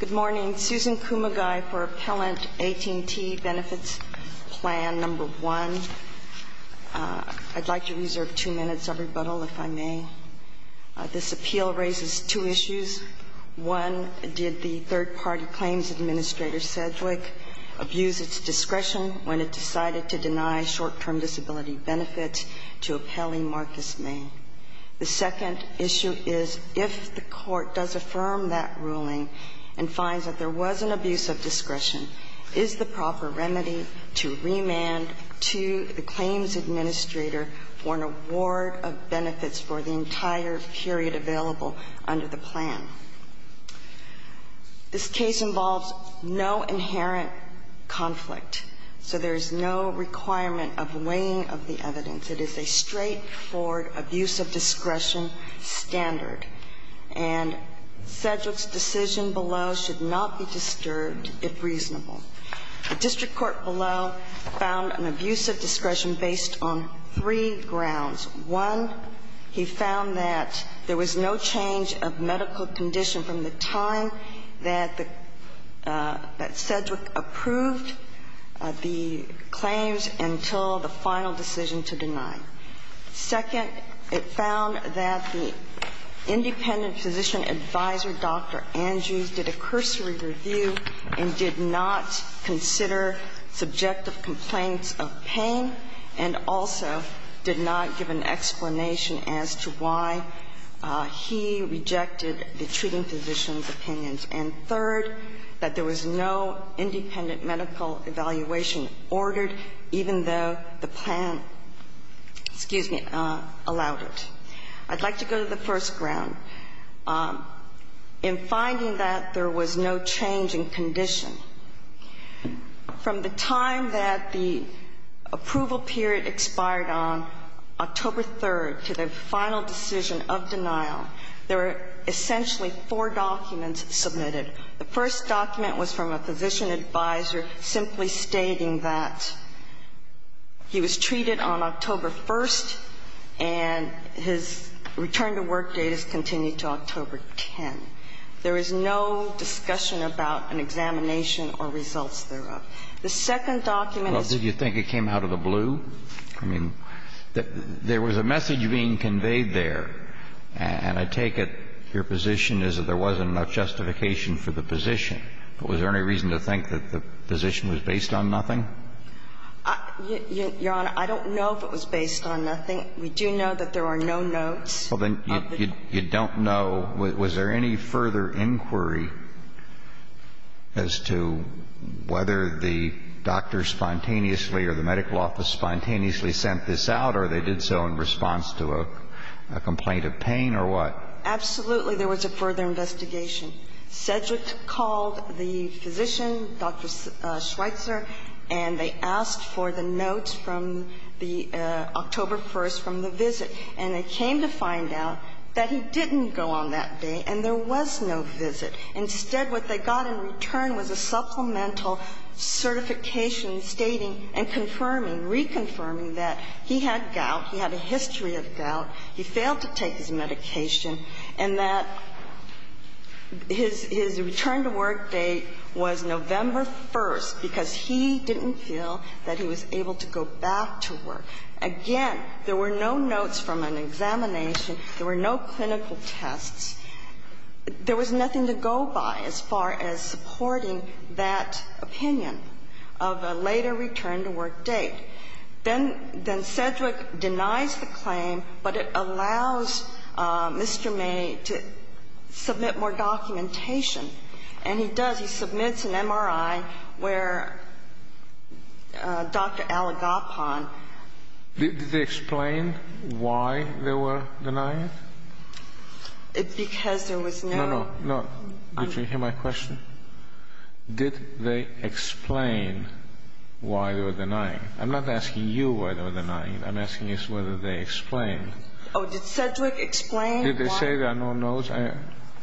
Good morning. Susan Kumagai for Appellant AT&T Benefits Plan No. 1. I'd like to reserve two minutes of rebuttal, if I may. This appeal raises two issues. One, did the third-party claims administrator Sedgwick abuse its discretion when it decided to deny short-term disability benefits to appellee Marcus May? The second issue is, if the court does affirm that ruling and finds that there was an abuse of discretion, is the proper remedy to remand to the claims administrator for an award of benefits for the entire period available under the plan? This case involves no inherent conflict, so there is no requirement of weighing of the evidence. It is a straightforward abuse of discretion standard. And Sedgwick's decision below should not be disturbed, if reasonable. The district court below found an abuse of discretion based on three grounds. One, he found that there was no change of medical condition from the time that the – that Sedgwick approved the claims until the final decision to deny. Second, it found that the independent physician advisor, Dr. Andrews, did a cursory review and did not consider subjective complaints of pain and also did not give an explanation as to why he rejected the treating physician's opinions. And third, that there was no independent medical evaluation ordered, even though the plan allowed it. I'd like to go to the first ground. In finding that there was no change in condition, from the time that the approval period expired on October 3rd to the final decision of denial, there were essentially four documents submitted. The first document was from a physician advisor simply stating that he was treated on October 1st and his return to work date is continued to October 10th. There is no discussion about an examination or results thereof. The second document is – I mean, there was a message being conveyed there, and I take it your position is that there wasn't enough justification for the position. But was there any reason to think that the position was based on nothing? Your Honor, I don't know if it was based on nothing. We do know that there are no notes. Well, then, you don't know – was there any further inquiry as to whether the doctor spontaneously or the medical office spontaneously sent this out or they did so in response to a complaint of pain or what? Absolutely, there was a further investigation. Sedgwick called the physician, Dr. Schweitzer, and they asked for the notes from the October 1st from the visit. And they came to find out that he didn't go on that day and there was no visit. Instead, what they got in return was a supplemental certification stating and confirming – reconfirming that he had gout, he had a history of gout, he failed to take his medication, and that his – his return to work date was November 1st because he didn't feel that he was able to go back to work. Again, there were no notes from an examination. There were no clinical tests. There was nothing to go by as far as supporting that opinion of a later return to work date. Then – then Sedgwick denies the claim, but it allows Mr. May to submit more documentation. And he does. He submits an MRI where Dr. Alagopon – Did they explain why they were denying it? Because there was no – No, no. No. Did you hear my question? Did they explain why they were denying it? I'm not asking you why they were denying it. I'm asking whether they explained. Oh, did Sedgwick explain why – Did they say there are no notes?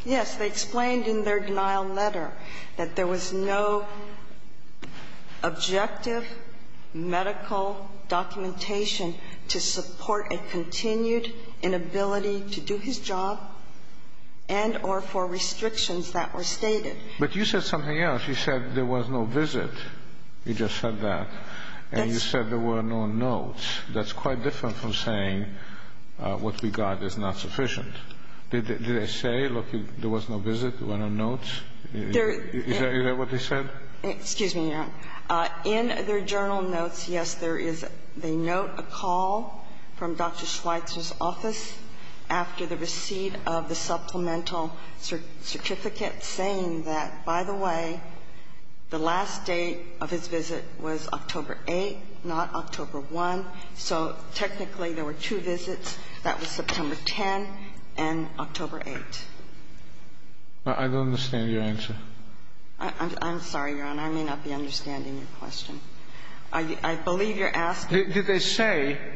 Yes. They explained in their denial letter that there was no objective medical documentation to support a continued inability to do his job and or for restrictions that were stated. But you said something else. You said there was no visit. You just said that. That's – And you said there were no notes. That's quite different from saying what we got is not sufficient. Did they say, look, there was no visit, there were no notes? There – Is that what they said? Excuse me, Your Honor. In their journal notes, yes, there is – they note a call from Dr. Schweitzer's office after the receipt of the supplemental certificate saying that, by the way, the last date of his visit was October 8th, not October 1st. So technically there were two visits. That was September 10th and October 8th. I don't understand your answer. I'm sorry, Your Honor. And I may not be understanding your question. I believe you're asking – Did they say –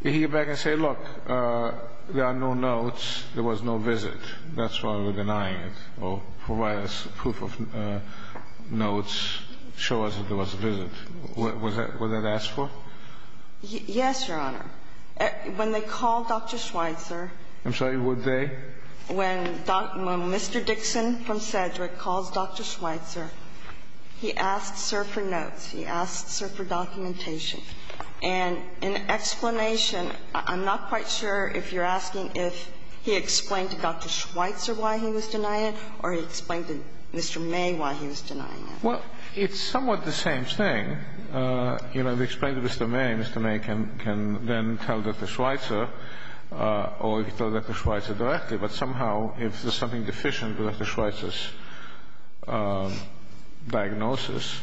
did he get back and say, look, there are no notes, there was no visit, that's why we're denying it, or provide us proof of notes, show us that there was a visit? Was that what they asked for? Yes, Your Honor. When they called Dr. Schweitzer – I'm sorry, would they? When Dr. – when Mr. Dixon from Cedric calls Dr. Schweitzer, he asks her for notes. He asks her for documentation. And in explanation, I'm not quite sure if you're asking if he explained to Dr. Schweitzer why he was denying it or he explained to Mr. May why he was denying it. Well, it's somewhat the same thing. You know, if you explain to Mr. May, Mr. May can then tell Dr. Schweitzer or he can tell Dr. Schweitzer directly. But somehow, if there's something deficient with Dr. Schweitzer's diagnosis,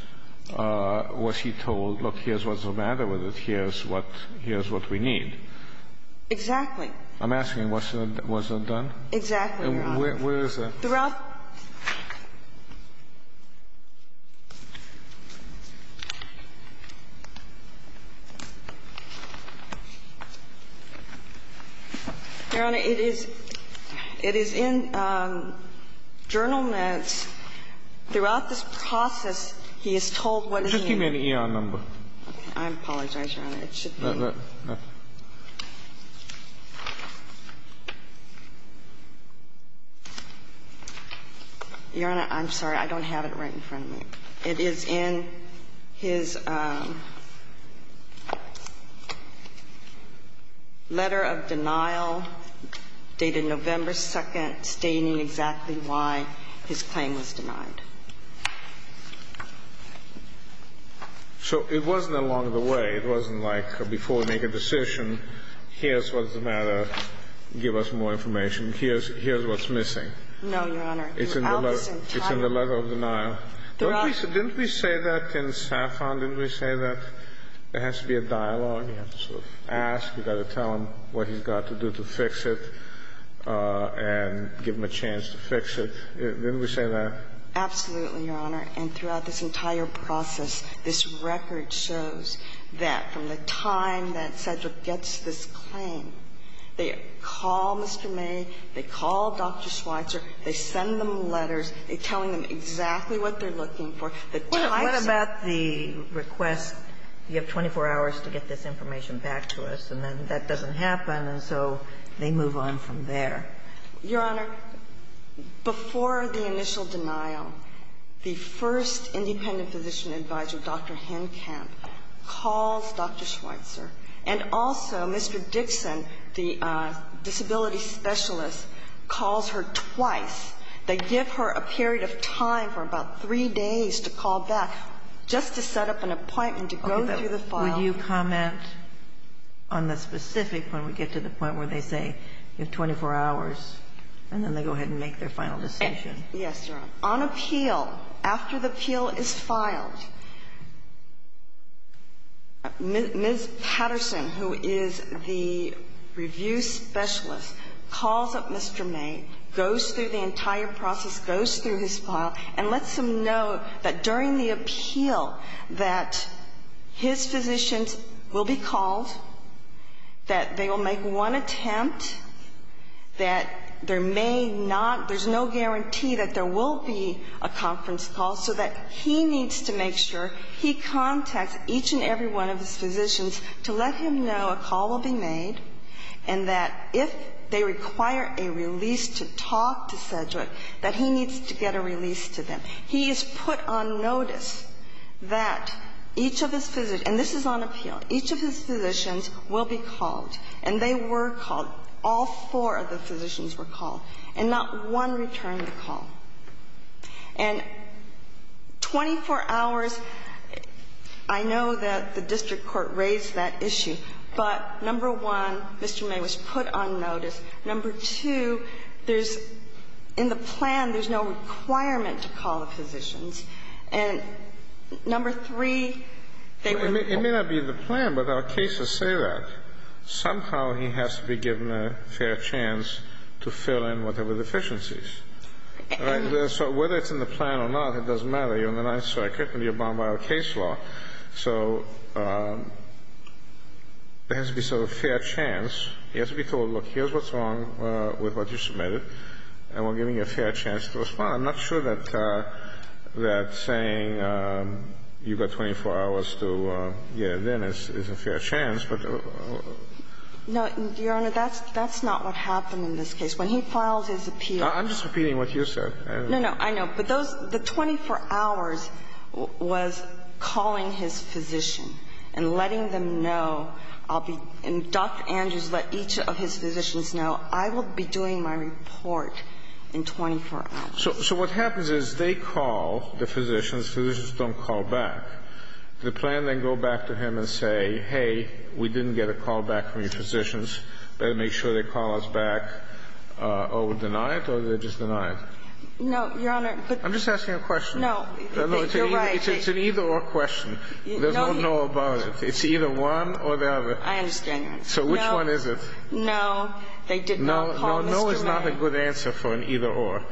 was he told, look, here's what's the matter with it, here's what – here's what we need? Exactly. I'm asking, was that done? Exactly, Your Honor. And where is that? Your Honor, it is – it is in journal notes. Throughout this process, he is told what he – It should be an eon number. I apologize, Your Honor. Your Honor, I'm sorry. I don't have it right in front of me. It is in his letter of denial dated November 2nd stating exactly why his claim was denied. So it wasn't along the way. Like before we make a decision, here's what's the matter, give us more information. Here's what's missing. No, Your Honor. It's in the letter of denial. Didn't we say that in Saffron? Didn't we say that there has to be a dialogue? You have to sort of ask. You've got to tell him what he's got to do to fix it and give him a chance to fix it. Didn't we say that? Absolutely, Your Honor. And throughout this entire process, this record shows that from the time that Cedric gets this claim, they call Mr. May, they call Dr. Schweitzer, they send them letters, they're telling them exactly what they're looking for. What about the request, you have 24 hours to get this information back to us, and then that doesn't happen, and so they move on from there? Your Honor, before the initial denial, the first independent physician advisor, Dr. Henkamp, calls Dr. Schweitzer, and also Mr. Dixon, the disability specialist, calls her twice. They give her a period of time for about three days to call back just to set up an appointment to go through the file. Would you comment on the specific, when we get to the point where they say you have 24 hours, and then they go ahead and make their final decision? Yes, Your Honor. On appeal, after the appeal is filed, Ms. Patterson, who is the review specialist, calls up Mr. May, goes through the entire process, goes through his file, and lets him know that during the appeal that his physicians will be called, that they will make one attempt, that there may not, there's no guarantee that there will be a conference call, so that he needs to make sure he contacts each and every one of his physicians to let him know a call will be made, and that if they require a release to talk to Sedgwick, that he needs to get a release to them. He is put on notice that each of his physicians, and this is on appeal, each of his physicians will be called, and they were called. All four of the physicians were called, and not one returned the call. And 24 hours, I know that the district court raised that issue, but number one, Mr. May was put on notice. Number two, there's, in the plan, there's no requirement to call the physicians. And number three, they were called. It may not be in the plan, but our cases say that. Somehow he has to be given a fair chance to fill in whatever deficiencies. So whether it's in the plan or not, it doesn't matter. You're in the Ninth Circuit and you're bound by our case law. So there has to be sort of a fair chance. He has to be told, look, here's what's wrong with what you submitted, and we're giving you a fair chance to respond. I'm not sure that saying you've got 24 hours to get it in is a fair chance, but. No, Your Honor, that's not what happened in this case. When he files his appeal. I'm just repeating what you said. No, no. I know. But those 24 hours was calling his physician and letting them know, I'll be, and Dr. Andrews let each of his physicians know, I will be doing my report in 24 hours. So what happens is they call the physicians. Physicians don't call back. The plan then go back to him and say, hey, we didn't get a call back from your physicians. Better make sure they call us back or deny it or they just deny it. No, Your Honor. I'm just asking a question. No. You're right. It's an either or question. There's no know about it. It's either one or the other. I understand that. So which one is it? No. They did not call Mr. May. No is not a good answer for an either or.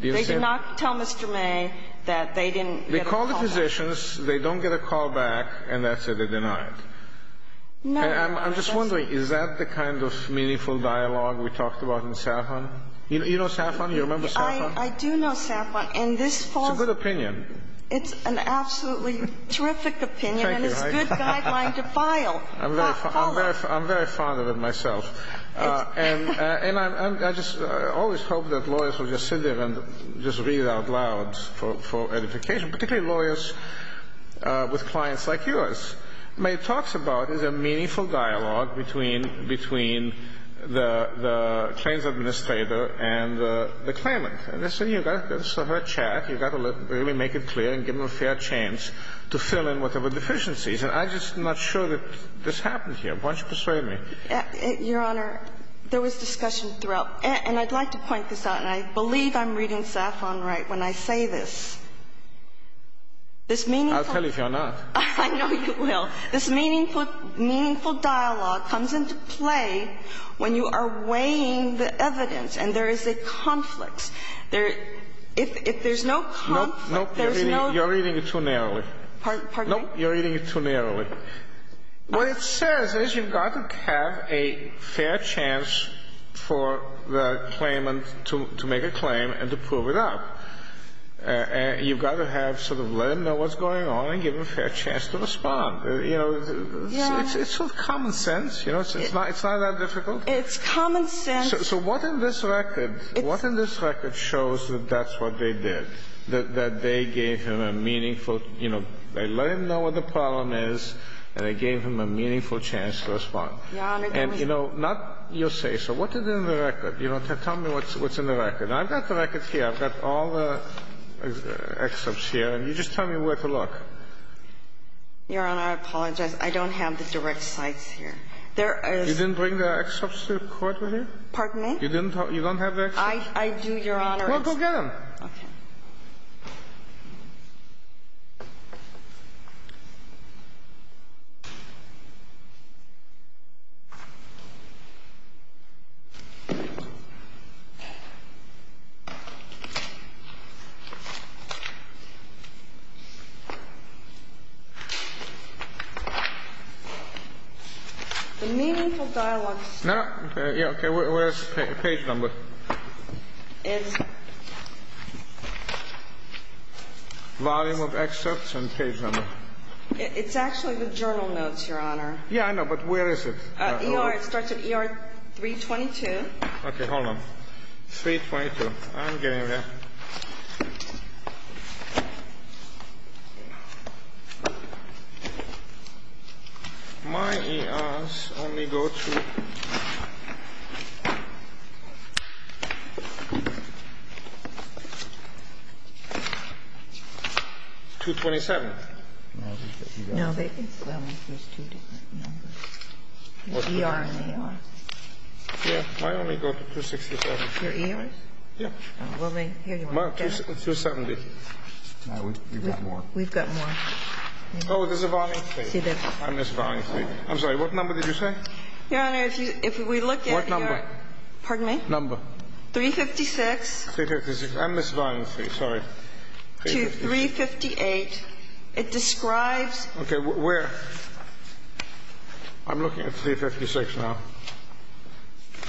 They did not tell Mr. May that they didn't get a call back. They call the physicians. They don't get a call back, and that's it. They deny it. No, Your Honor. I'm just wondering, is that the kind of meaningful dialogue we talked about in Safran? You know Safran? You remember Safran? I do know Safran. And this falls. It's a good opinion. It's an absolutely terrific opinion. Thank you. And it's a good guideline to file. I'm very fond of it myself. And I just always hope that lawyers will just sit there and just read out loud for edification, particularly lawyers with clients like yours. What May talks about is a meaningful dialogue between the claims administrator and the claimant. And this is her chat. You've got to really make it clear and give them a fair chance to fill in whatever deficiencies. And I'm just not sure that this happens here. Why don't you persuade me? Your Honor, there was discussion throughout. And I'd like to point this out, and I believe I'm reading Safran right when I say this. This meaningful ---- I'll tell you if you're not. I know you will. This meaningful dialogue comes into play when you are weighing the evidence and there is a conflict. If there's no conflict, there's no ---- Nope. You're reading it too narrowly. Pardon? Nope. You're reading it too narrowly. What it says is you've got to have a fair chance for the claimant to make a claim and to prove it up. You've got to have sort of let them know what's going on and give them a fair chance to respond. You know, it's sort of common sense. You know, it's not that difficult. It's common sense. So what in this record shows that that's what they did, that they gave him a meaningful, you know, they let him know what the problem is, and they gave him a meaningful chance to respond? Your Honor, the reason ---- And, you know, not your say so. What is in the record? You know, tell me what's in the record. Now, I've got the record here. I've got all the excerpts here, and you just tell me where to look. Your Honor, I apologize. I don't have the direct sites here. There is ---- You didn't bring the excerpts to court with you? Pardon me? You didn't have the excerpts? I do, Your Honor. Well, go get them. Okay. Thank you. The meaningful dialogue ---- No, no. Okay. Where is the page number? It's ---- Volume of excerpts and page number. It's actually the journal notes, Your Honor. Yeah, I know. But where is it? E.R. It starts at E.R. 322. Okay. Hold on. 322. I'm getting there. My E.R.s only go to 227. No, they didn't. There's two different numbers. E.R. and E.R. Yeah. My only go to 267. Your E.R.s? Yeah. Well, here you are. 270. We've got more. We've got more. Oh, there's a volume 3. I missed volume 3. I'm sorry. What number did you say? Your Honor, if we look at your ---- What number? Pardon me? Number. 356. 356. I missed volume 3. Sorry. 358. It describes ---- Okay. Where? I'm looking at 356 now. Sorry.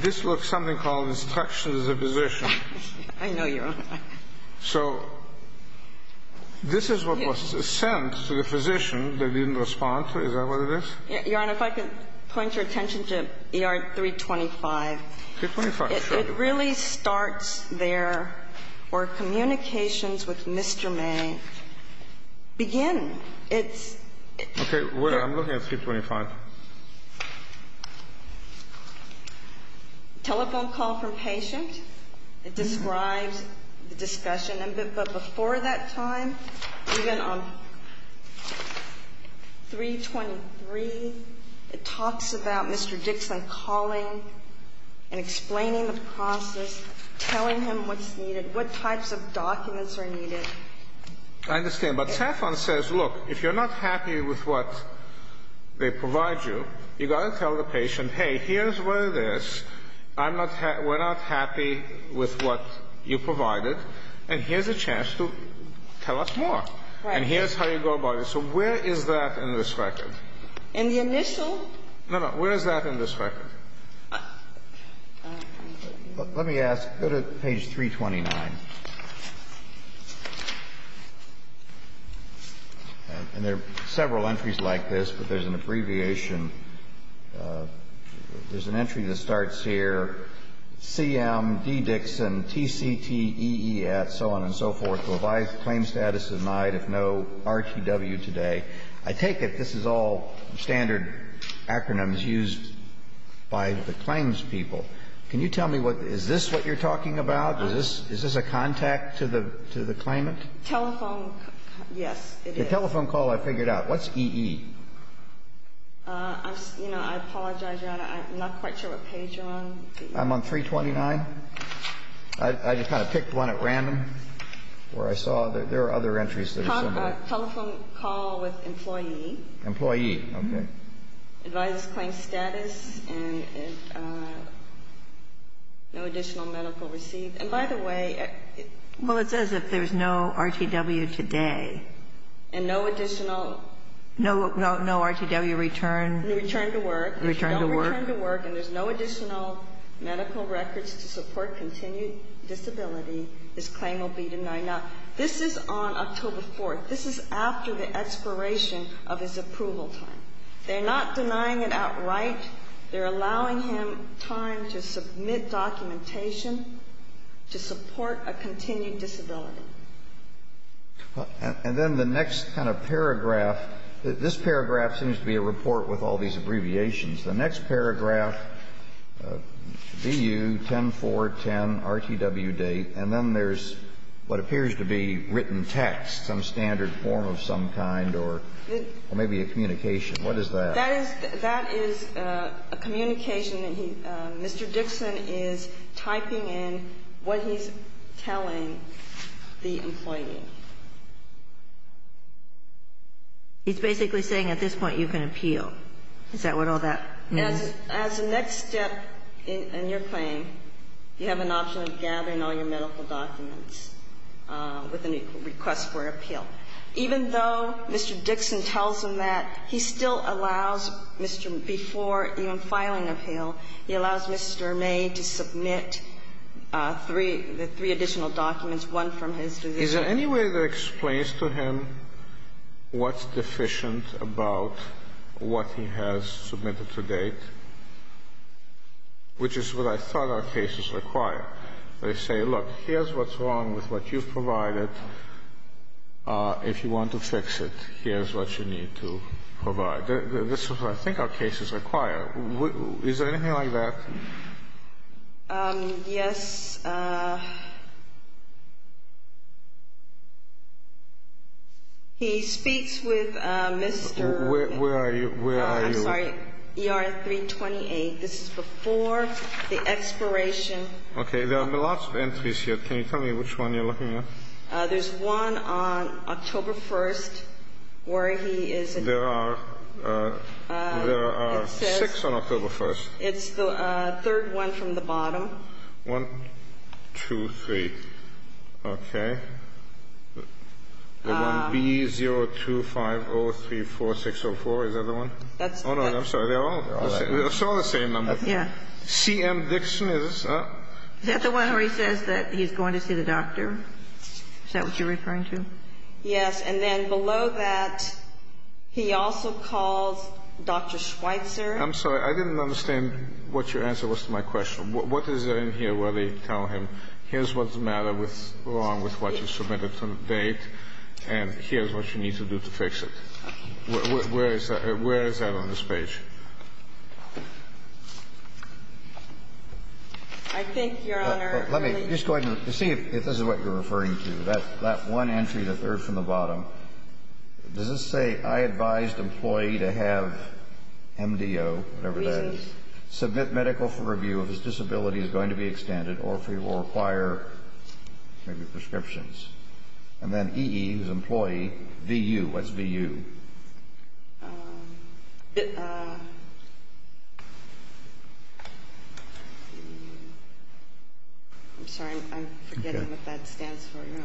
This looks something called instructions of position. I know, Your Honor. So this is what was sent to the physician. They didn't respond to it. Is that what it is? Your Honor, if I could point your attention to E.R. 325. 325. Sure. So it really starts there where communications with Mr. May begin. It's ---- Okay. Where? I'm looking at 325. Telephone call from patient. It describes the discussion. But before that time, even on 323, it talks about Mr. Dixon calling and explaining the process, telling him what's needed, what types of documents are needed. I understand. But telephone says, look, if you're not happy with what they provide you, you've got to tell the patient, hey, here's what it is. We're not happy with what you provided. Look, and here's a chance to tell us more. Right. And here's how you go about it. So where is that in this record? In the initial? No, no. Where is that in this record? Let me ask. Go to page 329. And there are several entries like this, but there's an abbreviation. There's an entry that starts here. CMD Dixon, TCTEE at so on and so forth. Revised claim status denied, if no RTW today. I take it this is all standard acronyms used by the claims people. Can you tell me, is this what you're talking about? Is this a contact to the claimant? Telephone. Yes, it is. The telephone call I figured out. What's EE? I'm, you know, I apologize, Your Honor. I'm not quite sure what page you're on. I'm on 329. I just kind of picked one at random where I saw there are other entries that are similar. Telephone call with employee. Employee. Okay. Revised claim status and no additional medical receipt. And by the way. Well, it says if there's no RTW today. And no additional. No RTW return. Return to work. Return to work. If you don't return to work and there's no additional medical records to support continued disability, this claim will be denied. Now, this is on October 4th. This is after the expiration of his approval time. They're not denying it outright. They're allowing him time to submit documentation to support a continued disability. And then the next kind of paragraph. This paragraph seems to be a report with all these abbreviations. The next paragraph, BU 10.4.10 RTW date. And then there's what appears to be written text, some standard form of some kind or maybe a communication. What is that? That is a communication. Mr. Dixon is typing in what he's telling. The employee. He's basically saying at this point you can appeal. Is that what all that means? As a next step in your claim, you have an option of gathering all your medical documents with a request for appeal. Even though Mr. Dixon tells him that, he still allows Mr. May, before even filing Is there any way that explains to him what's deficient about what he has submitted to date? Which is what I thought our cases require. They say, look, here's what's wrong with what you've provided. If you want to fix it, here's what you need to provide. This is what I think our cases require. Is there anything like that? Yes. He speaks with Mr. Where are you? Where are you? I'm sorry. ER 328. This is before the expiration. Okay. There are lots of entries here. Can you tell me which one you're looking at? There's one on October 1st where he is. There are six on October 1st. It's the third one from the bottom. One, two, three. Okay. The one B025034604. Is that the one? Oh, no. I'm sorry. They're all the same number. CM Dixon. Is that the one where he says that he's going to see the doctor? Is that what you're referring to? Yes. And then below that, he also calls Dr. Schweitzer. I'm sorry. I didn't understand what your answer was to my question. What is in here where they tell him here's what's wrong with what you submitted to the date and here's what you need to do to fix it? Where is that on this page? I think, Your Honor. Let me just go ahead and see if this is what you're referring to, that one entry, the third from the bottom. Does this say, I advised employee to have MDO, whatever that is, submit medical for review if his disability is going to be extended or if he will require maybe prescriptions? And then EE, who's employee, VU. What's VU? I'm sorry. I'm forgetting what that stands for, Your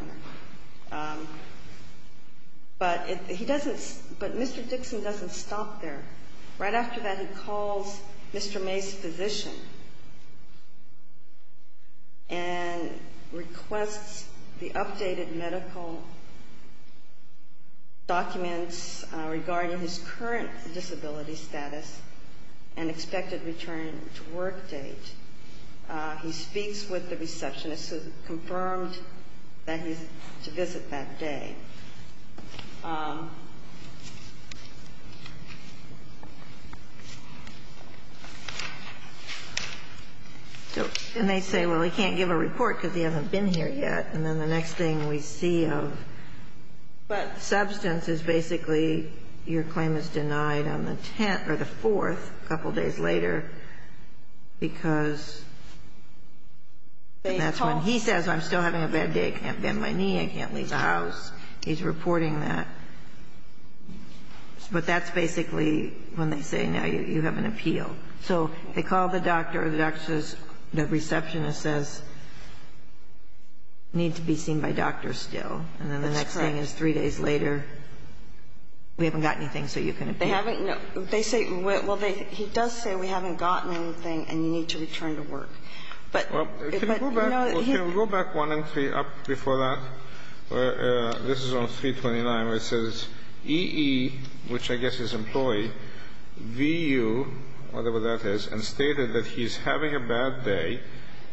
Honor. But Mr. Dixon doesn't stop there. Right after that, he calls Mr. May's physician and requests the updated medical documents regarding his current disability status and expected return to work date. He speaks with the receptionist who confirmed that he's to visit that day. And they say, well, he can't give a report because he hasn't been here yet. And then the next thing we see of substance is basically your claim is denied on the fourth a couple days later because that's when he says, I'm still having a bad day. I can't bend my knee. I can't leave the house. He's reporting that. But that's basically when they say, now you have an appeal. So they call the doctor. The doctor says, the receptionist says, need to be seen by doctor still. That's correct. And then the next thing is three days later, we haven't got anything so you can appeal. They say, well, he does say we haven't gotten anything and you need to return to work. Can we go back one entry up before that? This is on 329 where it says EE, which I guess is employee, VU, whatever that is, and stated that he's having a bad day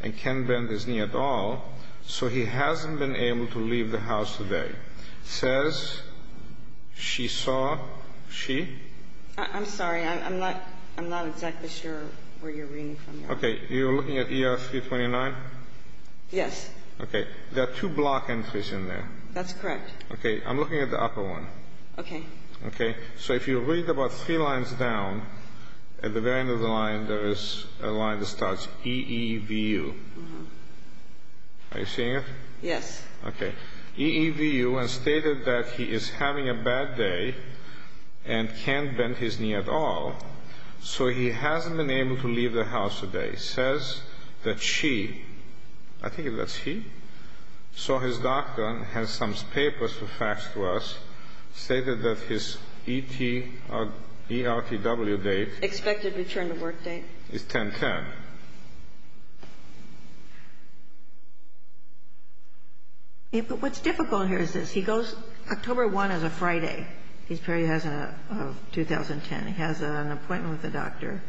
and can't bend his knee at all, so he hasn't been able to leave the house today. Says she saw, she? I'm sorry. I'm not exactly sure where you're reading from. Okay. You're looking at ER 329? Yes. Okay. There are two block entries in there. That's correct. Okay. I'm looking at the upper one. Okay. Okay. So if you read about three lines down, at the very end of the line there is a line that starts EEVU. Are you seeing it? Yes. Okay. EEVU and stated that he is having a bad day and can't bend his knee at all, so he hasn't been able to leave the house today. Says that she, I think that's he, so his doctor has some papers for facts to us, stated that his ET or ERTW date. Expected return to work date. Is 10-10. But what's difficult here is this. He goes, October 1 is a Friday. He has a 2010. He has an appointment with the doctor.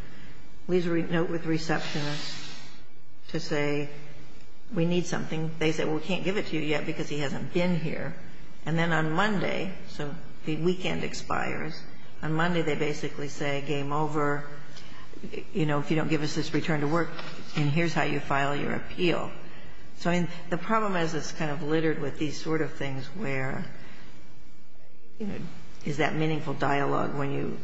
He leaves a note with the receptionist to say we need something. They say, well, we can't give it to you yet because he hasn't been here. And then on Monday, so the weekend expires, on Monday they basically say game over. You know, if you don't give us this return to work, and here's how you file your appeal. So the problem is it's kind of littered with these sort of things where, you know, is that meaningful dialogue when you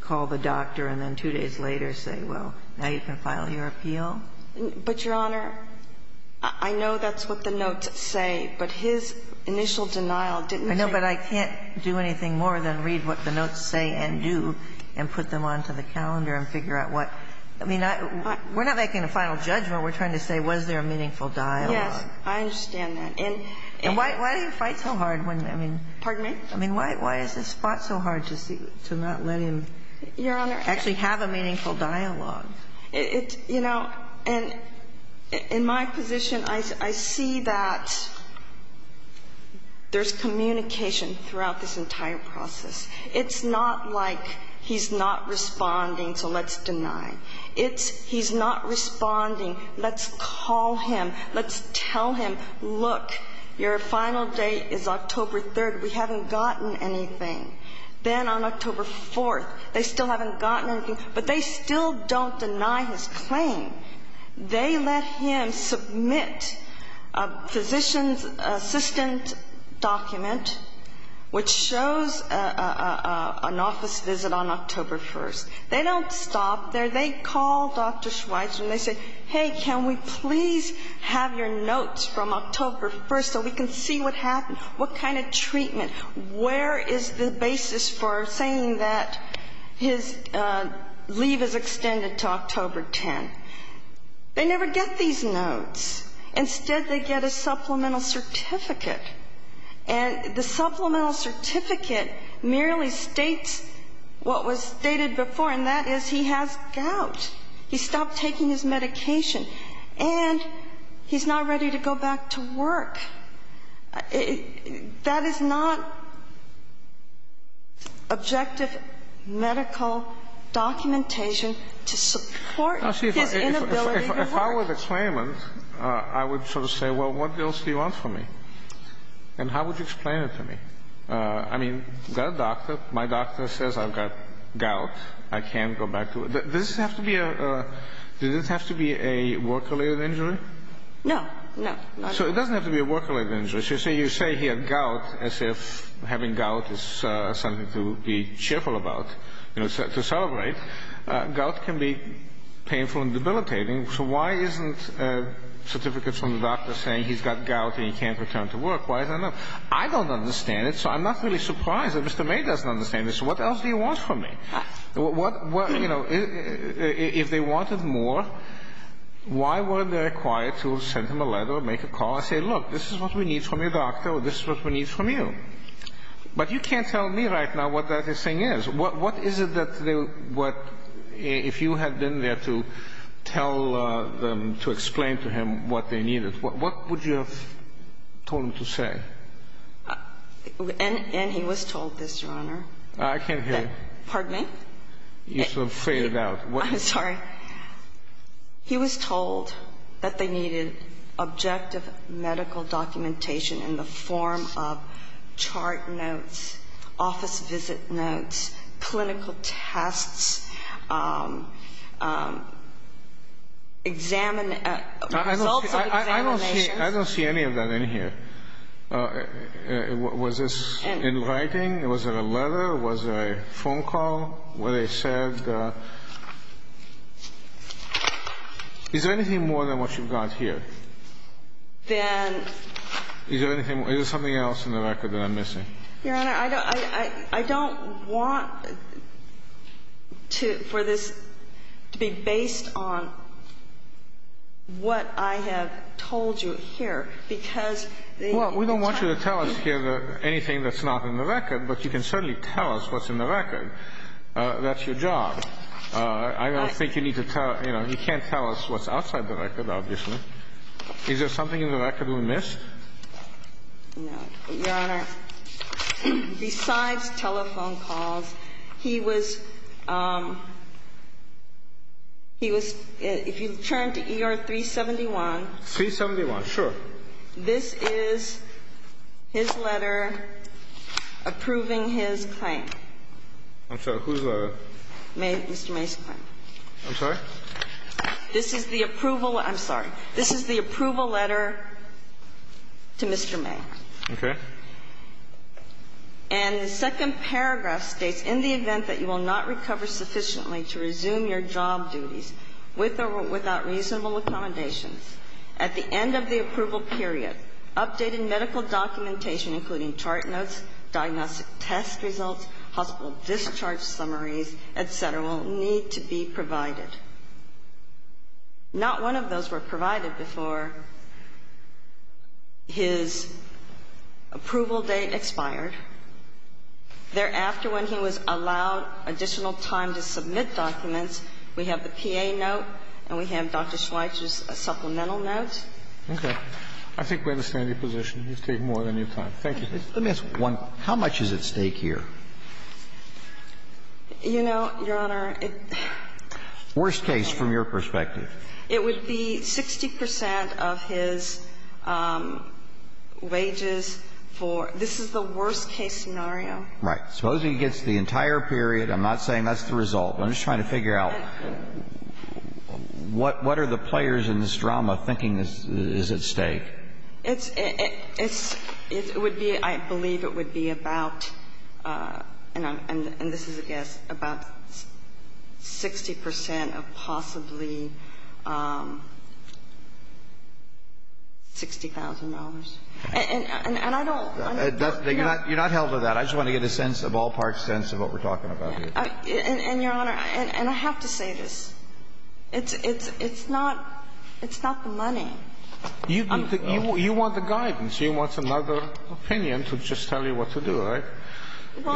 call the doctor and then two days later say, well, now you can file your appeal? But, Your Honor, I know that's what the notes say, but his initial denial didn't say. I know, but I can't do anything more than read what the notes say and do and put them onto the calendar and figure out what. I mean, we're not making a final judgment. We're trying to say was there a meaningful dialogue. Yes. I understand that. And why do you fight so hard when, I mean. Pardon me? I mean, why is this spot so hard to see, to not let him actually have a meaningful dialogue? It's, you know, and in my position, I see that there's communication throughout this entire process. It's not like he's not responding, so let's deny. It's he's not responding, let's call him, let's tell him, look, your final date is October 3rd. We haven't gotten anything. Then on October 4th, they still haven't gotten anything, but they still don't deny his claim. They let him submit a physician's assistant document which shows an office visit on October 1st. They don't stop there. They call Dr. Schweitzer and they say, hey, can we please have your notes from October 1st so we can see what happened, what kind of treatment, where is the basis for saying that his leave is extended to October 10th. They never get these notes. Instead, they get a supplemental certificate, and the supplemental certificate merely states what was stated before, and that is he has gout. He stopped taking his medication, and he's not ready to go back to work. That is not objective medical documentation to support his inability to work. If I were the claimant, I would sort of say, well, what else do you want from me? And how would you explain it to me? I mean, I've got a doctor. My doctor says I've got gout. I can't go back to work. Does this have to be a work-related injury? No. So it doesn't have to be a work-related injury. So you say he had gout as if having gout is something to be cheerful about, to celebrate. Gout can be painful and debilitating. So why isn't a certificate from the doctor saying he's got gout and he can't return to work? Why is that not? I don't understand it, so I'm not really surprised that Mr. May doesn't understand it. So what else do you want from me? If they wanted more, why were they required to send him a letter or make a call and say, look, this is what we need from your doctor or this is what we need from you? But you can't tell me right now what that thing is. What is it that if you had been there to tell them, to explain to him what they needed, what would you have told him to say? And he was told this, Your Honor. I can't hear you. Pardon me? You sort of faded out. I'm sorry. He was told that they needed objective medical documentation in the form of chart notes, office visit notes, clinical tests, results of examinations. I don't see any of that in here. Was this in writing? Was it a letter? Was there a phone call where they said? Is there anything more than what you've got here? Then... Is there anything else in the record that I'm missing? Your Honor, I don't want for this to be based on what I have told you here, because... Well, we don't want you to tell us here anything that's not in the record, but you can certainly tell us what's in the record. That's your job. I don't think you need to tell... You can't tell us what's outside the record, obviously. Is there something in the record we missed? No. Your Honor, besides telephone calls, he was... He was... If you turn to ER 371... 371, sure. This is his letter approving his claim. I'm sorry. Whose letter? Mr. May's claim. I'm sorry? This is the approval. I'm sorry. This is the approval letter to Mr. May. Okay. And the second paragraph states, in the event that you will not recover sufficiently to resume your job duties with or without reasonable accommodations, at the end of the approval period, updated medical documentation, including chart notes, diagnostic test results, hospital discharge summaries, et cetera, will need to be provided. Not one of those were provided before his approval date expired. Thereafter, when he was allowed additional time to submit documents, we have the PA note and we have Dr. Schweitzer's supplemental notes. Okay. I think we understand your position. You've taken more than your time. Thank you. Let me ask one. How much is at stake here? You know, Your Honor, it... Worst case from your perspective. It would be 60 percent of his wages for this is the worst case scenario. Right. Suppose he gets the entire period. I'm not saying that's the result. I'm just trying to figure out what are the players in this drama thinking is at stake. It would be, I believe it would be about, and this is a guess, about 60 percent of possibly $60,000. And I don't... You're not held to that. I just want to get a sense, a ballpark sense of what we're talking about here. And, Your Honor, and I have to say this. It's not the money. You want the guidance. You want another opinion to just tell you what to do, right? It's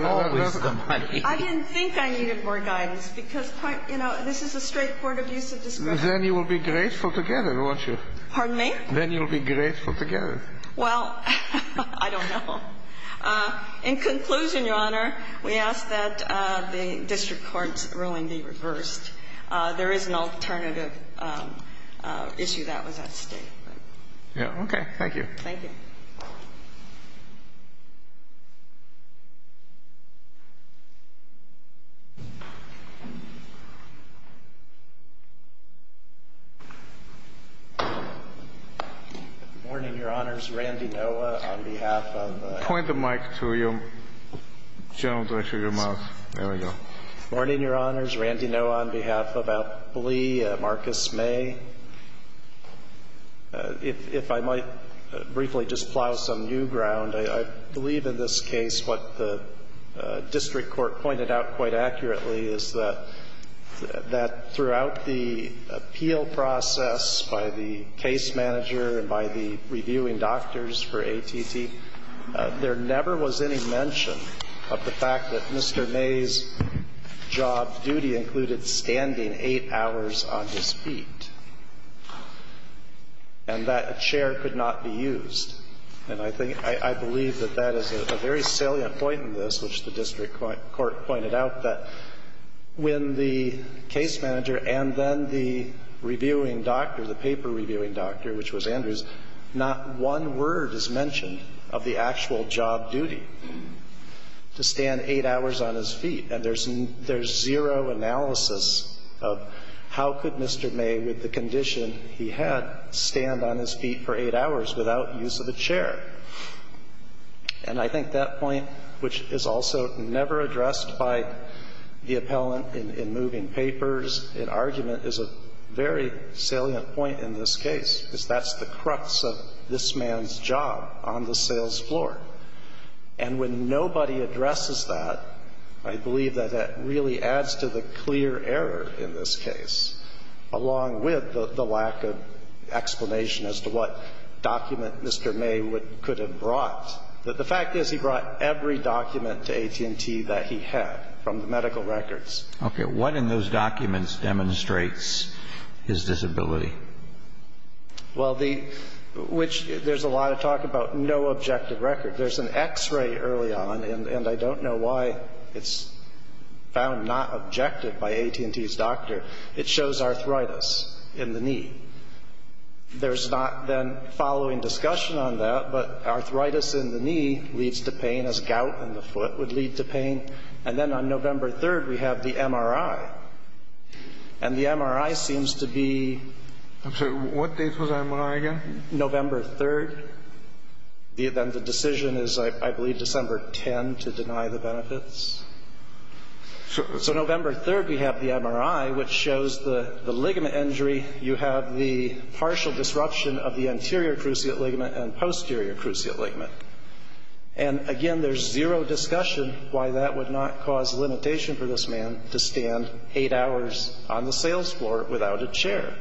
always the money. I didn't think I needed more guidance because, you know, this is a straight court of use of discretion. Then you will be grateful to get it, won't you? Pardon me? Then you'll be grateful to get it. Well, I don't know. In conclusion, Your Honor, we ask that the district court's ruling be reversed. There is an alternative issue that was at stake. Okay. Thank you. Thank you. Morning, Your Honors. Randy Noah on behalf of... Point the mic to your general director, your mouth. There we go. Morning, Your Honors. Randy Noah on behalf of Appley, Marcus May. If I might briefly just plow some new ground, I believe in this case what the district court pointed out quite accurately is that throughout the appeal process by the case manager and by the reviewing doctors for ATT, there never was any mention of the fact that Mr. May's job duty included standing eight hours on his feet. And that chair could not be used. And I believe that that is a very salient point in this, which the district court pointed out, that when the case manager and then the reviewing doctor, the paper reviewing doctor, which was Andrews, not one word is mentioned of the actual job duty to stand eight hours on his feet. And there's zero analysis of how could Mr. May, with the condition he had, stand on his feet for eight hours without use of a chair. And I think that point, which is also never addressed by the appellant in moving papers in argument, is a very salient point in this case, because that's the crux of this man's job on the sales floor. And when nobody addresses that, I believe that that really adds to the clear error in this case, along with the lack of explanation as to what document Mr. May could have brought. The fact is he brought every document to AT&T that he had from the medical records. Okay. What in those documents demonstrates his disability? Well, the – which there's a lot of talk about no objective record. There's an X-ray early on, and I don't know why it's found not objective by AT&T's doctor. It shows arthritis in the knee. There's not then following discussion on that, but arthritis in the knee leads to pain, as gout in the foot would lead to pain. And then on November 3rd, we have the MRI. And the MRI seems to be – I'm sorry. What date was the MRI again? November 3rd. Then the decision is, I believe, December 10th to deny the benefits. So November 3rd, we have the MRI, which shows the ligament injury. You have the partial disruption of the anterior cruciate ligament and posterior cruciate ligament. And, again, there's zero discussion why that would not cause a limitation for this patient to stand eight hours on the sales floor without a chair.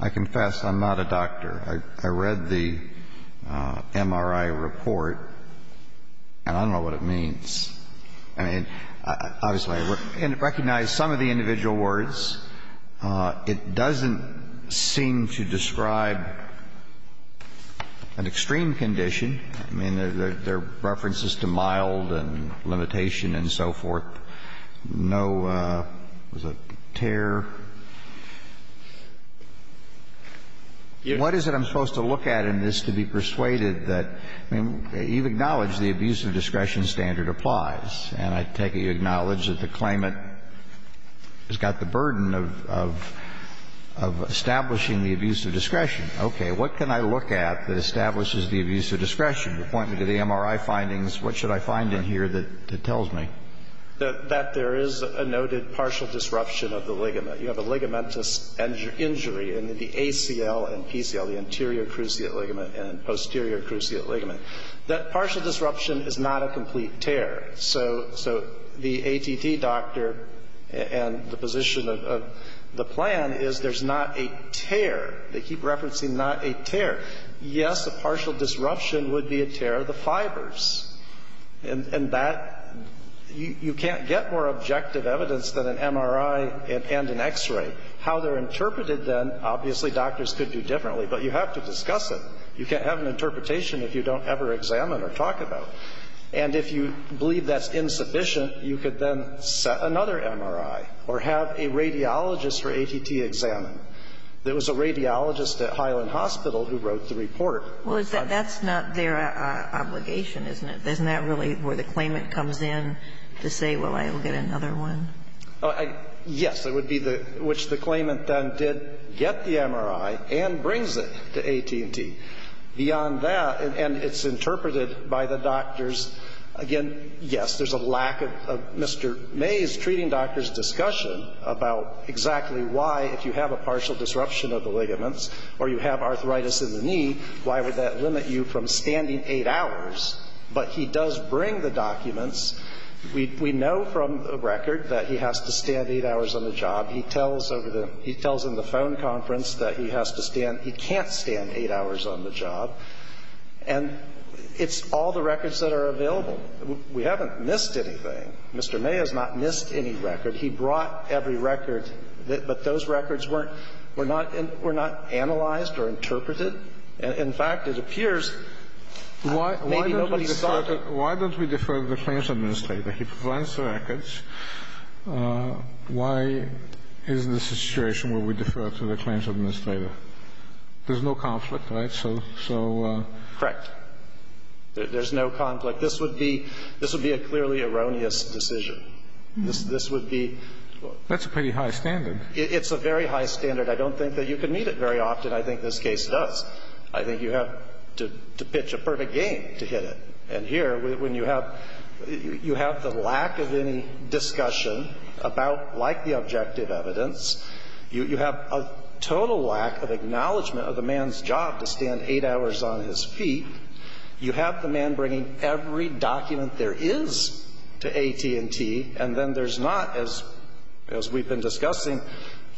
I confess, I'm not a doctor. I read the MRI report, and I don't know what it means. I mean, obviously, I recognize some of the individual words. It doesn't seem to describe an extreme condition. I mean, there are references to mild and limitation and so forth. No – was it tear? What is it I'm supposed to look at in this to be persuaded that – I mean, you've acknowledged the abuse of discretion standard applies. And I take it you acknowledge that the claimant has got the burden of establishing the abuse of discretion. Okay. What can I look at that establishes the abuse of discretion? You're pointing to the MRI findings. What should I find in here that tells me? That there is a noted partial disruption of the ligament. You have a ligamentous injury in the ACL and PCL, the anterior cruciate ligament and posterior cruciate ligament. That partial disruption is not a complete tear. So the ATD doctor and the position of the plan is there's not a tear. They keep referencing not a tear. Yes, a partial disruption would be a tear of the fibers. And that – you can't get more objective evidence than an MRI and an X-ray. How they're interpreted then, obviously doctors could do differently, but you have to discuss it. You can't have an interpretation if you don't ever examine or talk about it. And if you believe that's insufficient, you could then set another MRI or have a radiologist for ATT examine. There was a radiologist at Highland Hospital who wrote the report. Well, that's not their obligation, isn't it? Isn't that really where the claimant comes in to say, well, I'll get another one? Yes. It would be the – which the claimant then did get the MRI and brings it to AT&T. Beyond that, and it's interpreted by the doctors, again, yes, there's a lack of Mr. Mays treating doctors' discussion about exactly why, if you have a partial disruption of the ligaments or you have arthritis in the knee, why would that limit you from standing eight hours? But he does bring the documents. We know from the record that he has to stand eight hours on the job. He tells over the – he tells in the phone conference that he has to stand – he can't stand eight hours on the job. And it's all the records that are available. We haven't missed anything. Mr. May has not missed any record. He brought every record, but those records weren't – were not – were not analyzed or interpreted. In fact, it appears maybe nobody saw them. Why don't we defer to the claims administrator? He provides the records. Why is the situation where we defer to the claims administrator? There's no conflict, right? So – so – Correct. There's no conflict. This would be – this would be a clearly erroneous decision. This would be – That's a pretty high standard. It's a very high standard. I don't think that you can meet it very often. I think this case does. I think you have to pitch a perfect game to hit it. And here, when you have – you have the lack of any discussion about, like the objective evidence, you have a total lack of acknowledgment of the man's job to stand eight hours on his feet. You have the man bringing every document there is to AT&T, and then there's not, as we've been discussing,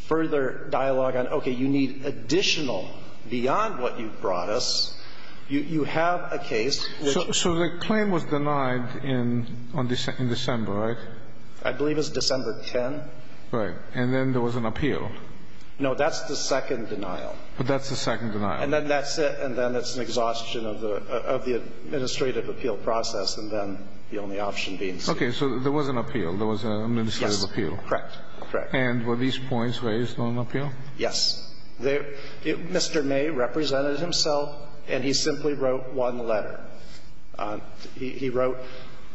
further dialogue on, okay, you need additional beyond what you brought us. You have a case which – So the claim was denied in – on December, right? I believe it was December 10th. Right. And then there was an appeal. No, that's the second denial. But that's the second denial. And then that's it. And then it's an exhaustion of the – of the administrative appeal process, and then the only option being – Okay. So there was an appeal. There was an administrative appeal. Yes. Correct. Correct. And were these points raised on appeal? Yes. Mr. May represented himself, and he simply wrote one letter. He wrote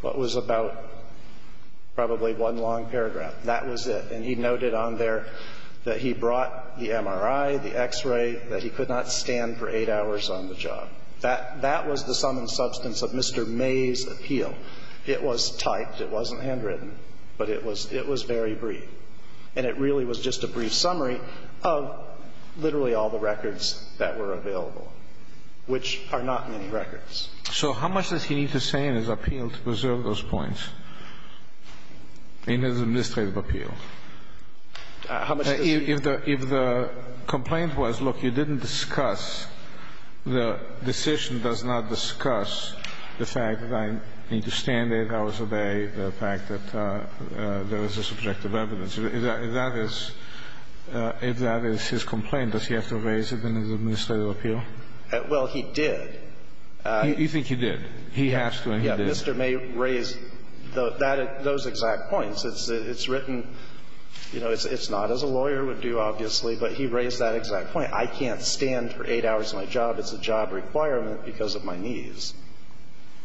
what was about probably one long paragraph. That was it. And he noted on there that he brought the MRI, the X-ray, that he could not stand for eight hours on the job. That was the sum and substance of Mr. May's appeal. It was typed. It wasn't handwritten. But it was very brief. And it really was just a brief summary of literally all the records that were available, which are not many records. So how much does he need to say in his appeal to preserve those points in his administrative appeal? How much does he need? If the complaint was, look, you didn't discuss, the decision does not discuss the fact that I need to stand eight hours a day, the fact that there is a subjective evidence. If that is his complaint, does he have to raise it in his administrative appeal? Well, he did. You think he did? He has to, and he did. Mr. May raised those exact points. It's written, you know, it's not as a lawyer would do, obviously, but he raised that exact point. I can't stand for eight hours on my job. It's a job requirement because of my knees.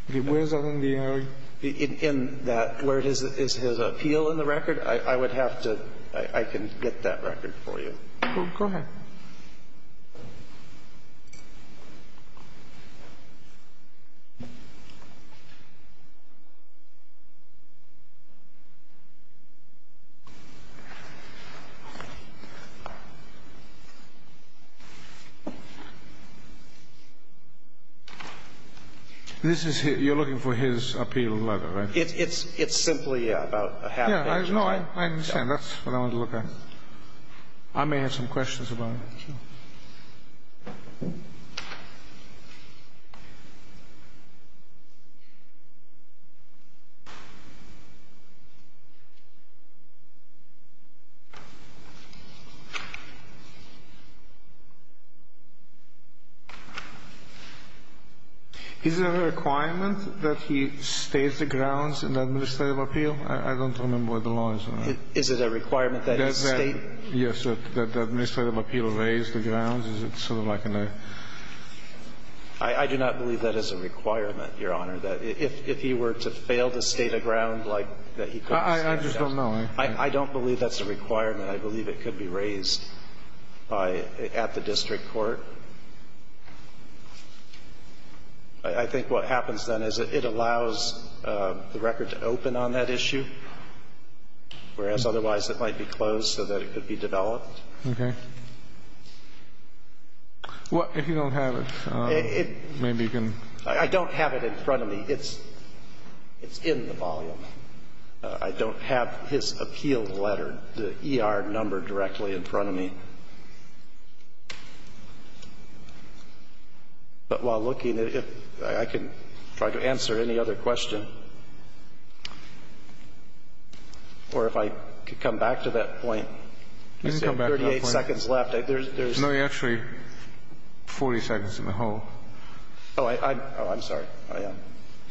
If he wears it on the MRI? In that, where it is his appeal in the record, I would have to – I can get that record for you. Go ahead. This is – you're looking for his appeal letter, right? It's simply about a half page. No, I understand. That's what I want to look at. I may have some questions about it. Sure. Is there a requirement that he states the grounds in the administrative appeal? I don't remember what the law is on that. Is it a requirement that he state – Yes, that the administrative appeal raise the grounds? Is it sort of like in the – I do not believe that is a requirement, Your Honor, that if he were to fail to state a ground, like, that he couldn't state a ground. I just don't know. I don't believe that's a requirement. I believe it could be raised by – at the district court. I think what happens then is it allows the record to open on that issue, whereas otherwise it might be closed so that it could be developed. Okay. Well, if you don't have it, maybe you can – I don't have it in front of me. It's in the volume. I don't have his appeal letter, the ER number, directly in front of me. But while looking, if I can try to answer any other question, or if I could come back to that point. You can come back to that point. I have 38 seconds left. There's – No, you actually have 40 seconds in the whole. Oh, I'm sorry. I am.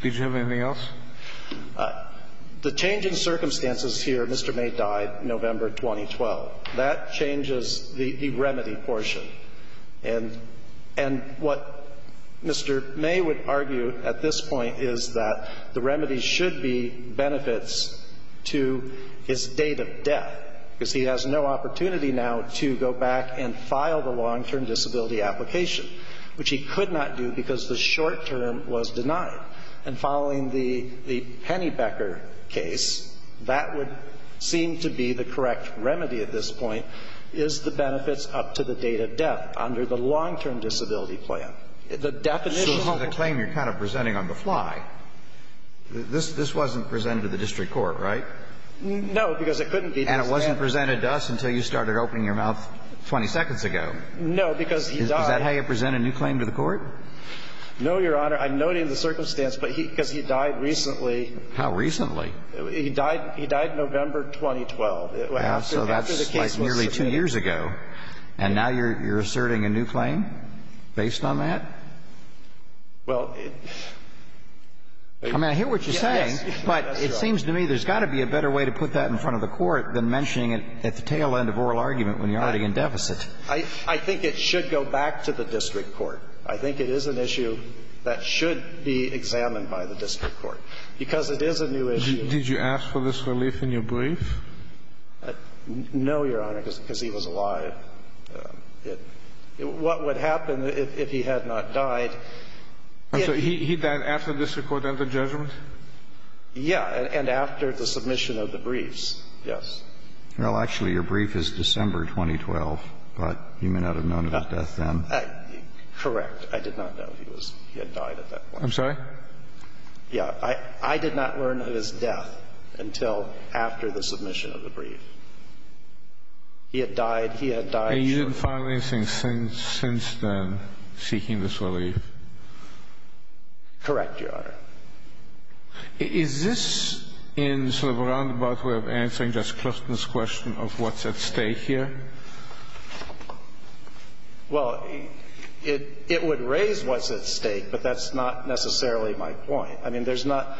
Did you have anything else? The change in circumstances here, Mr. May died November 2012. That changes the remedy portion. And what Mr. May would argue at this point is that the remedy should be benefits to his date of death, because he has no opportunity now to go back and file the long-term disability application, which he could not do because the short-term was denied. And following the Pennybecker case, that would seem to be the correct remedy at this point, is the benefits up to the date of death under the long-term disability plan. The definition of the claim you're kind of presenting on the fly, this wasn't presented to the district court, right? No, because it couldn't be. And it wasn't presented to us until you started opening your mouth 20 seconds ago. No, because he died. Is that how you present a new claim to the court? No, Your Honor. I'm noting the circumstance, but because he died recently. How recently? He died November 2012. So that's like nearly two years ago. And now you're asserting a new claim based on that? Well, I mean, I hear what you're saying, but it seems to me there's got to be a better way to put that in front of the court than mentioning it at the tail end of oral argument when you're already in deficit. I think it should go back to the district court. I think it is an issue that should be examined by the district court, because it is a new issue. Did you ask for this relief in your brief? No, Your Honor, because he was alive. What would happen if he had not died? So he died after the district court entered judgment? Yeah, and after the submission of the briefs, yes. Well, actually, your brief is December 2012, but you may not have known about death Correct. I did not know he was he had died at that point. I'm sorry? Yeah. I did not learn of his death until after the submission of the brief. He had died. He had died shortly. And you didn't find anything since then seeking this relief? Correct, Your Honor. Is this in sort of a roundabout way of answering just Clifton's question of what's at stake here? Well, it would raise what's at stake, but that's not necessarily my point. I mean, there's not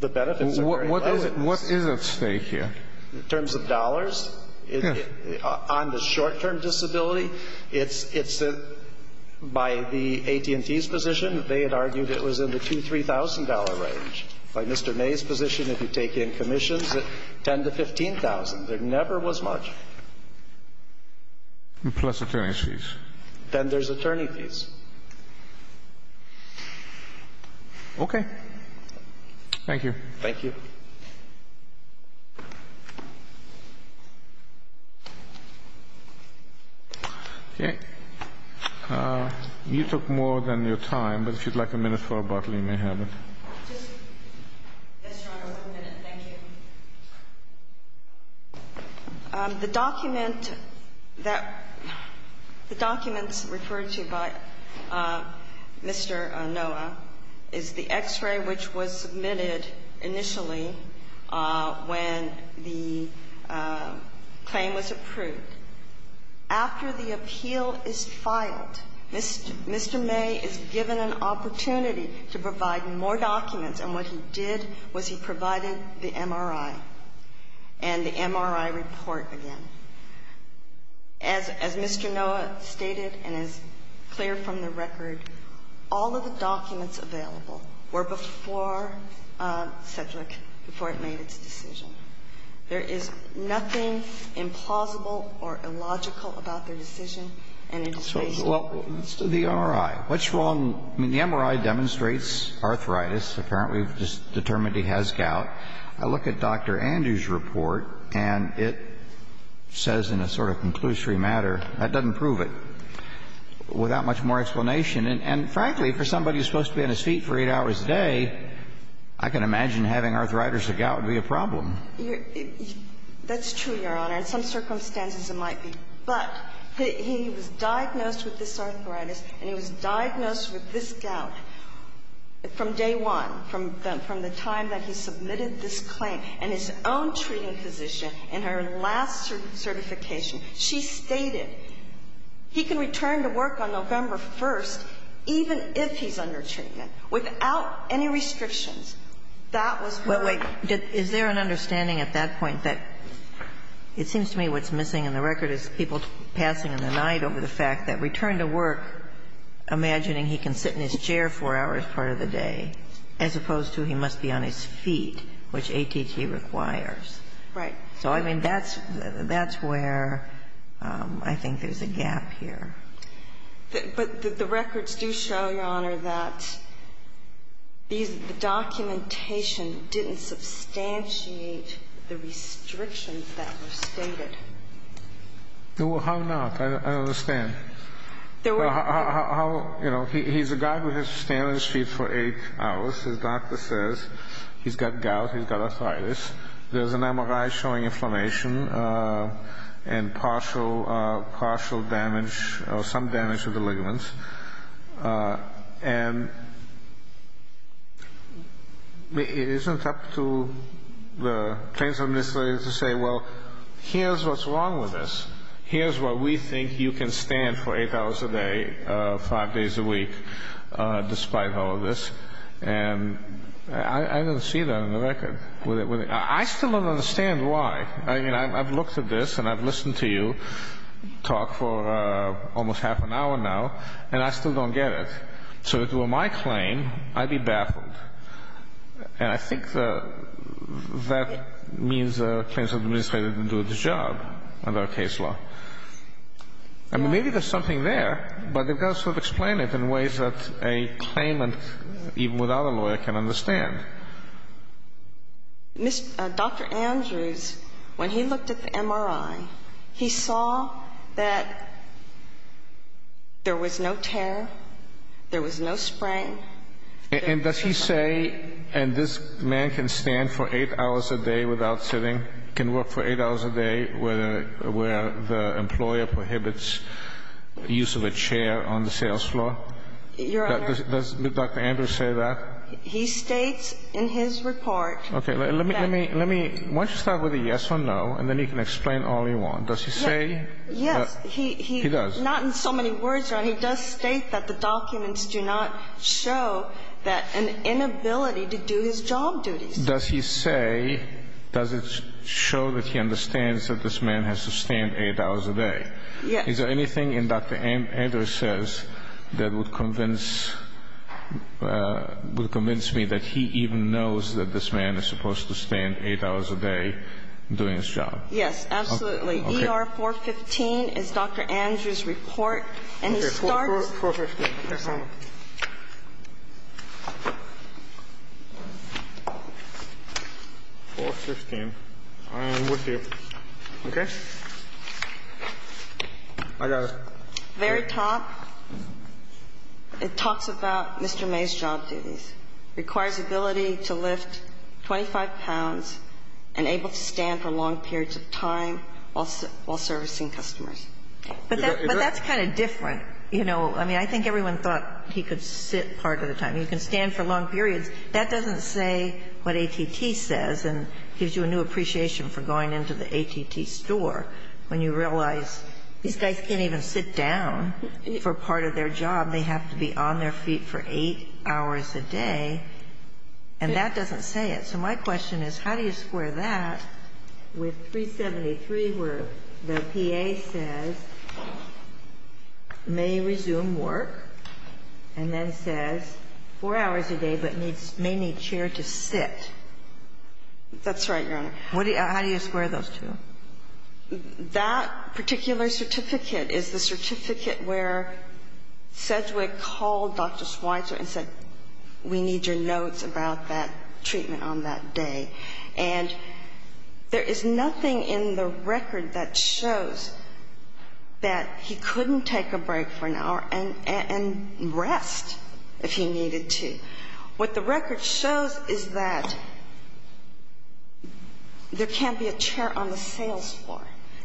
the benefits are very low. What is at stake here? In terms of dollars, on the short-term disability, it's by the AT&T's position, they had argued it was in the $2,000, $3,000 range. By Mr. May's position, if you take in commissions, it's $10,000 to $15,000. There never was much. Plus attorney's fees. Then there's attorney fees. Okay. Thank you. Thank you. Okay. You took more than your time, but if you'd like a minute for a bottle, you may have it. Yes, Your Honor. One minute. Thank you. The document that the documents referred to by Mr. Noah is the x-ray which was submitted initially when the claim was approved. After the appeal is filed, Mr. May is given an opportunity to provide more documents, and what he did was he provided the MRI and the MRI report again. As Mr. Noah stated and is clear from the record, all of the documents available were before CEDRIC, before it made its decision. There is nothing implausible or illogical about their decision. And it is based on the evidence. Well, the MRI. What's wrong? I mean, the MRI demonstrates arthritis. Apparently, it's determined he has gout. I look at Dr. Andrews' report, and it says in a sort of conclusory matter, that doesn't prove it, without much more explanation. And frankly, for somebody who's supposed to be on his feet for eight hours a day, I can imagine having arthritis or gout would be a problem. That's true, Your Honor. In some circumstances, it might be. But he was diagnosed with this arthritis, and he was diagnosed with this gout from day one, from the time that he submitted this claim. And his own treating physician, in her last certification, she stated he can return to work on November 1st, even if he's under treatment, without any restrictions. That was her label. Is there an understanding at that point that it seems to me what's missing in the record is people passing in the night over the fact that return to work, imagining he can sit in his chair four hours part of the day, as opposed to he must be on his feet, which ATT requires. Right. So, I mean, that's where I think there's a gap here. But the records do show, Your Honor, that the documentation didn't substantiate the restrictions that were stated. Well, how not? I don't understand. How, you know, he's a guy who has to stand on his feet for eight hours. His doctor says he's got gout, he's got arthritis. There's an MRI showing inflammation and partial, partial damage or some damage to the ligaments. And it isn't up to the claims administrator to say, well, here's what's wrong with this. Here's where we think you can stand for eight hours a day, five days a week, despite all of this. And I don't see that in the record. I still don't understand why. I mean, I've looked at this and I've listened to you talk for almost half an hour now, and I still don't get it. So if it were my claim, I'd be baffled. And I think that means the claims administrator didn't do its job under our case law. I mean, maybe there's something there, but they've got to sort of explain it in ways that a claimant, even without a lawyer, can understand. Dr. Andrews, when he looked at the MRI, he saw that there was no tear, there was no sprain. And does he say, and this man can stand for eight hours a day without sitting, can work for eight hours a day where the employer prohibits the use of a chair on the sales floor? Your Honor. Does Dr. Andrews say that? He states in his report. Okay. Let me, let me, let me, why don't you start with a yes or no, and then you can explain all you want. Does he say? Yes. He does. Not in so many words, Your Honor. He does state that the documents do not show that an inability to do his job duties. Does he say, does it show that he understands that this man has to stand eight hours a day? Yes. Is there anything in Dr. Andrews' says that would convince, would convince me that he even knows that this man is supposed to stand eight hours a day doing his job? Yes, absolutely. Okay. ER-415 is Dr. Andrews' report, and he starts. Okay. 415. Okay. 415. I am with you. Okay. I got it. Very top, it talks about Mr. May's job duties. Requires ability to lift 25 pounds and able to stand for long periods of time while servicing customers. But that's kind of different. You know, I mean, I think everyone thought he could sit part of the time. You can stand for long periods. That doesn't say what ATT says and gives you a new appreciation for going into the ATT store when you realize these guys can't even sit down for part of their job. They have to be on their feet for eight hours a day. And that doesn't say it. So my question is, how do you square that with 373 where the PA says may resume work and then says four hours a day but may need chair to sit? That's right, Your Honor. How do you square those two? That particular certificate is the certificate where Sedgwick called Dr. Schweitzer and said, we need your notes about that treatment on that day. And there is nothing in the record that shows that he couldn't take a break for an hour and rest if he needed to. What the record shows is that there can't be a chair on the sales floor.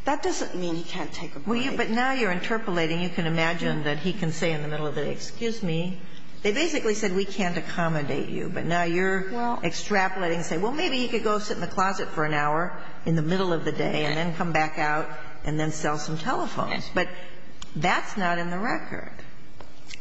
That doesn't mean he can't take a break. But now you're interpolating. You can imagine that he can say in the middle of the day, excuse me. They basically said we can't accommodate you. But now you're extrapolating and saying, well, maybe he could go sit in the closet for an hour in the middle of the day and then come back out and then sell some telephones. But that's not in the record.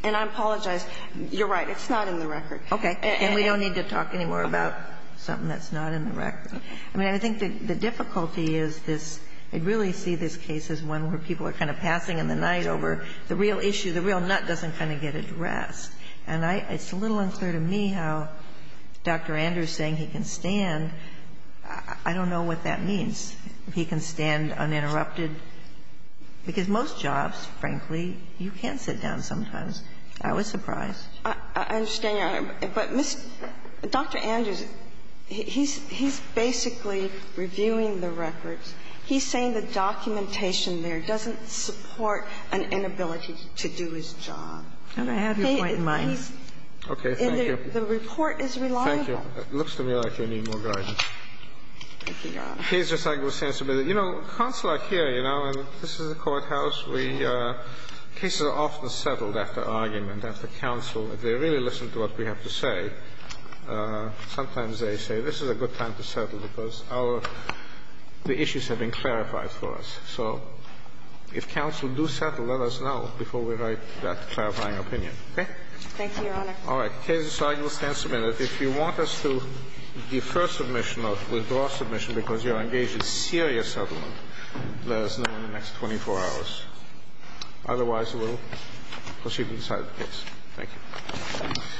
And I apologize. You're right. It's not in the record. Okay. And we don't need to talk anymore about something that's not in the record. I mean, I think the difficulty is this. I really see this case as one where people are kind of passing in the night over the real issue. The real nut doesn't kind of get addressed. And it's a little unclear to me how Dr. Andrews saying he can stand, I don't know what that means. He can stand uninterrupted. Because most jobs, frankly, you can sit down sometimes. I was surprised. I understand, Your Honor. But Dr. Andrews, he's basically reviewing the records. He's saying the documentation there doesn't support an inability to do his job. And I have your point in mind. Okay. Thank you. And the report is reliable. Thank you. It looks to me like you need more guidance. Thank you, Your Honor. Here's your second sense of it. You know, counsel are here, you know, and this is a courthouse. We – cases are often settled after argument, after counsel. If they really listen to what we have to say, sometimes they say this is a good time to settle because our – the issues have been clarified for us. So if counsel do settle, let us know before we write that clarifying opinion. Okay? Thank you, Your Honor. All right. Case is signed. We'll stand a minute. If you want us to defer submission or withdraw submission because you're engaged in serious settlement, let us know in the next 24 hours. Otherwise, we'll proceed and decide the case. Thank you.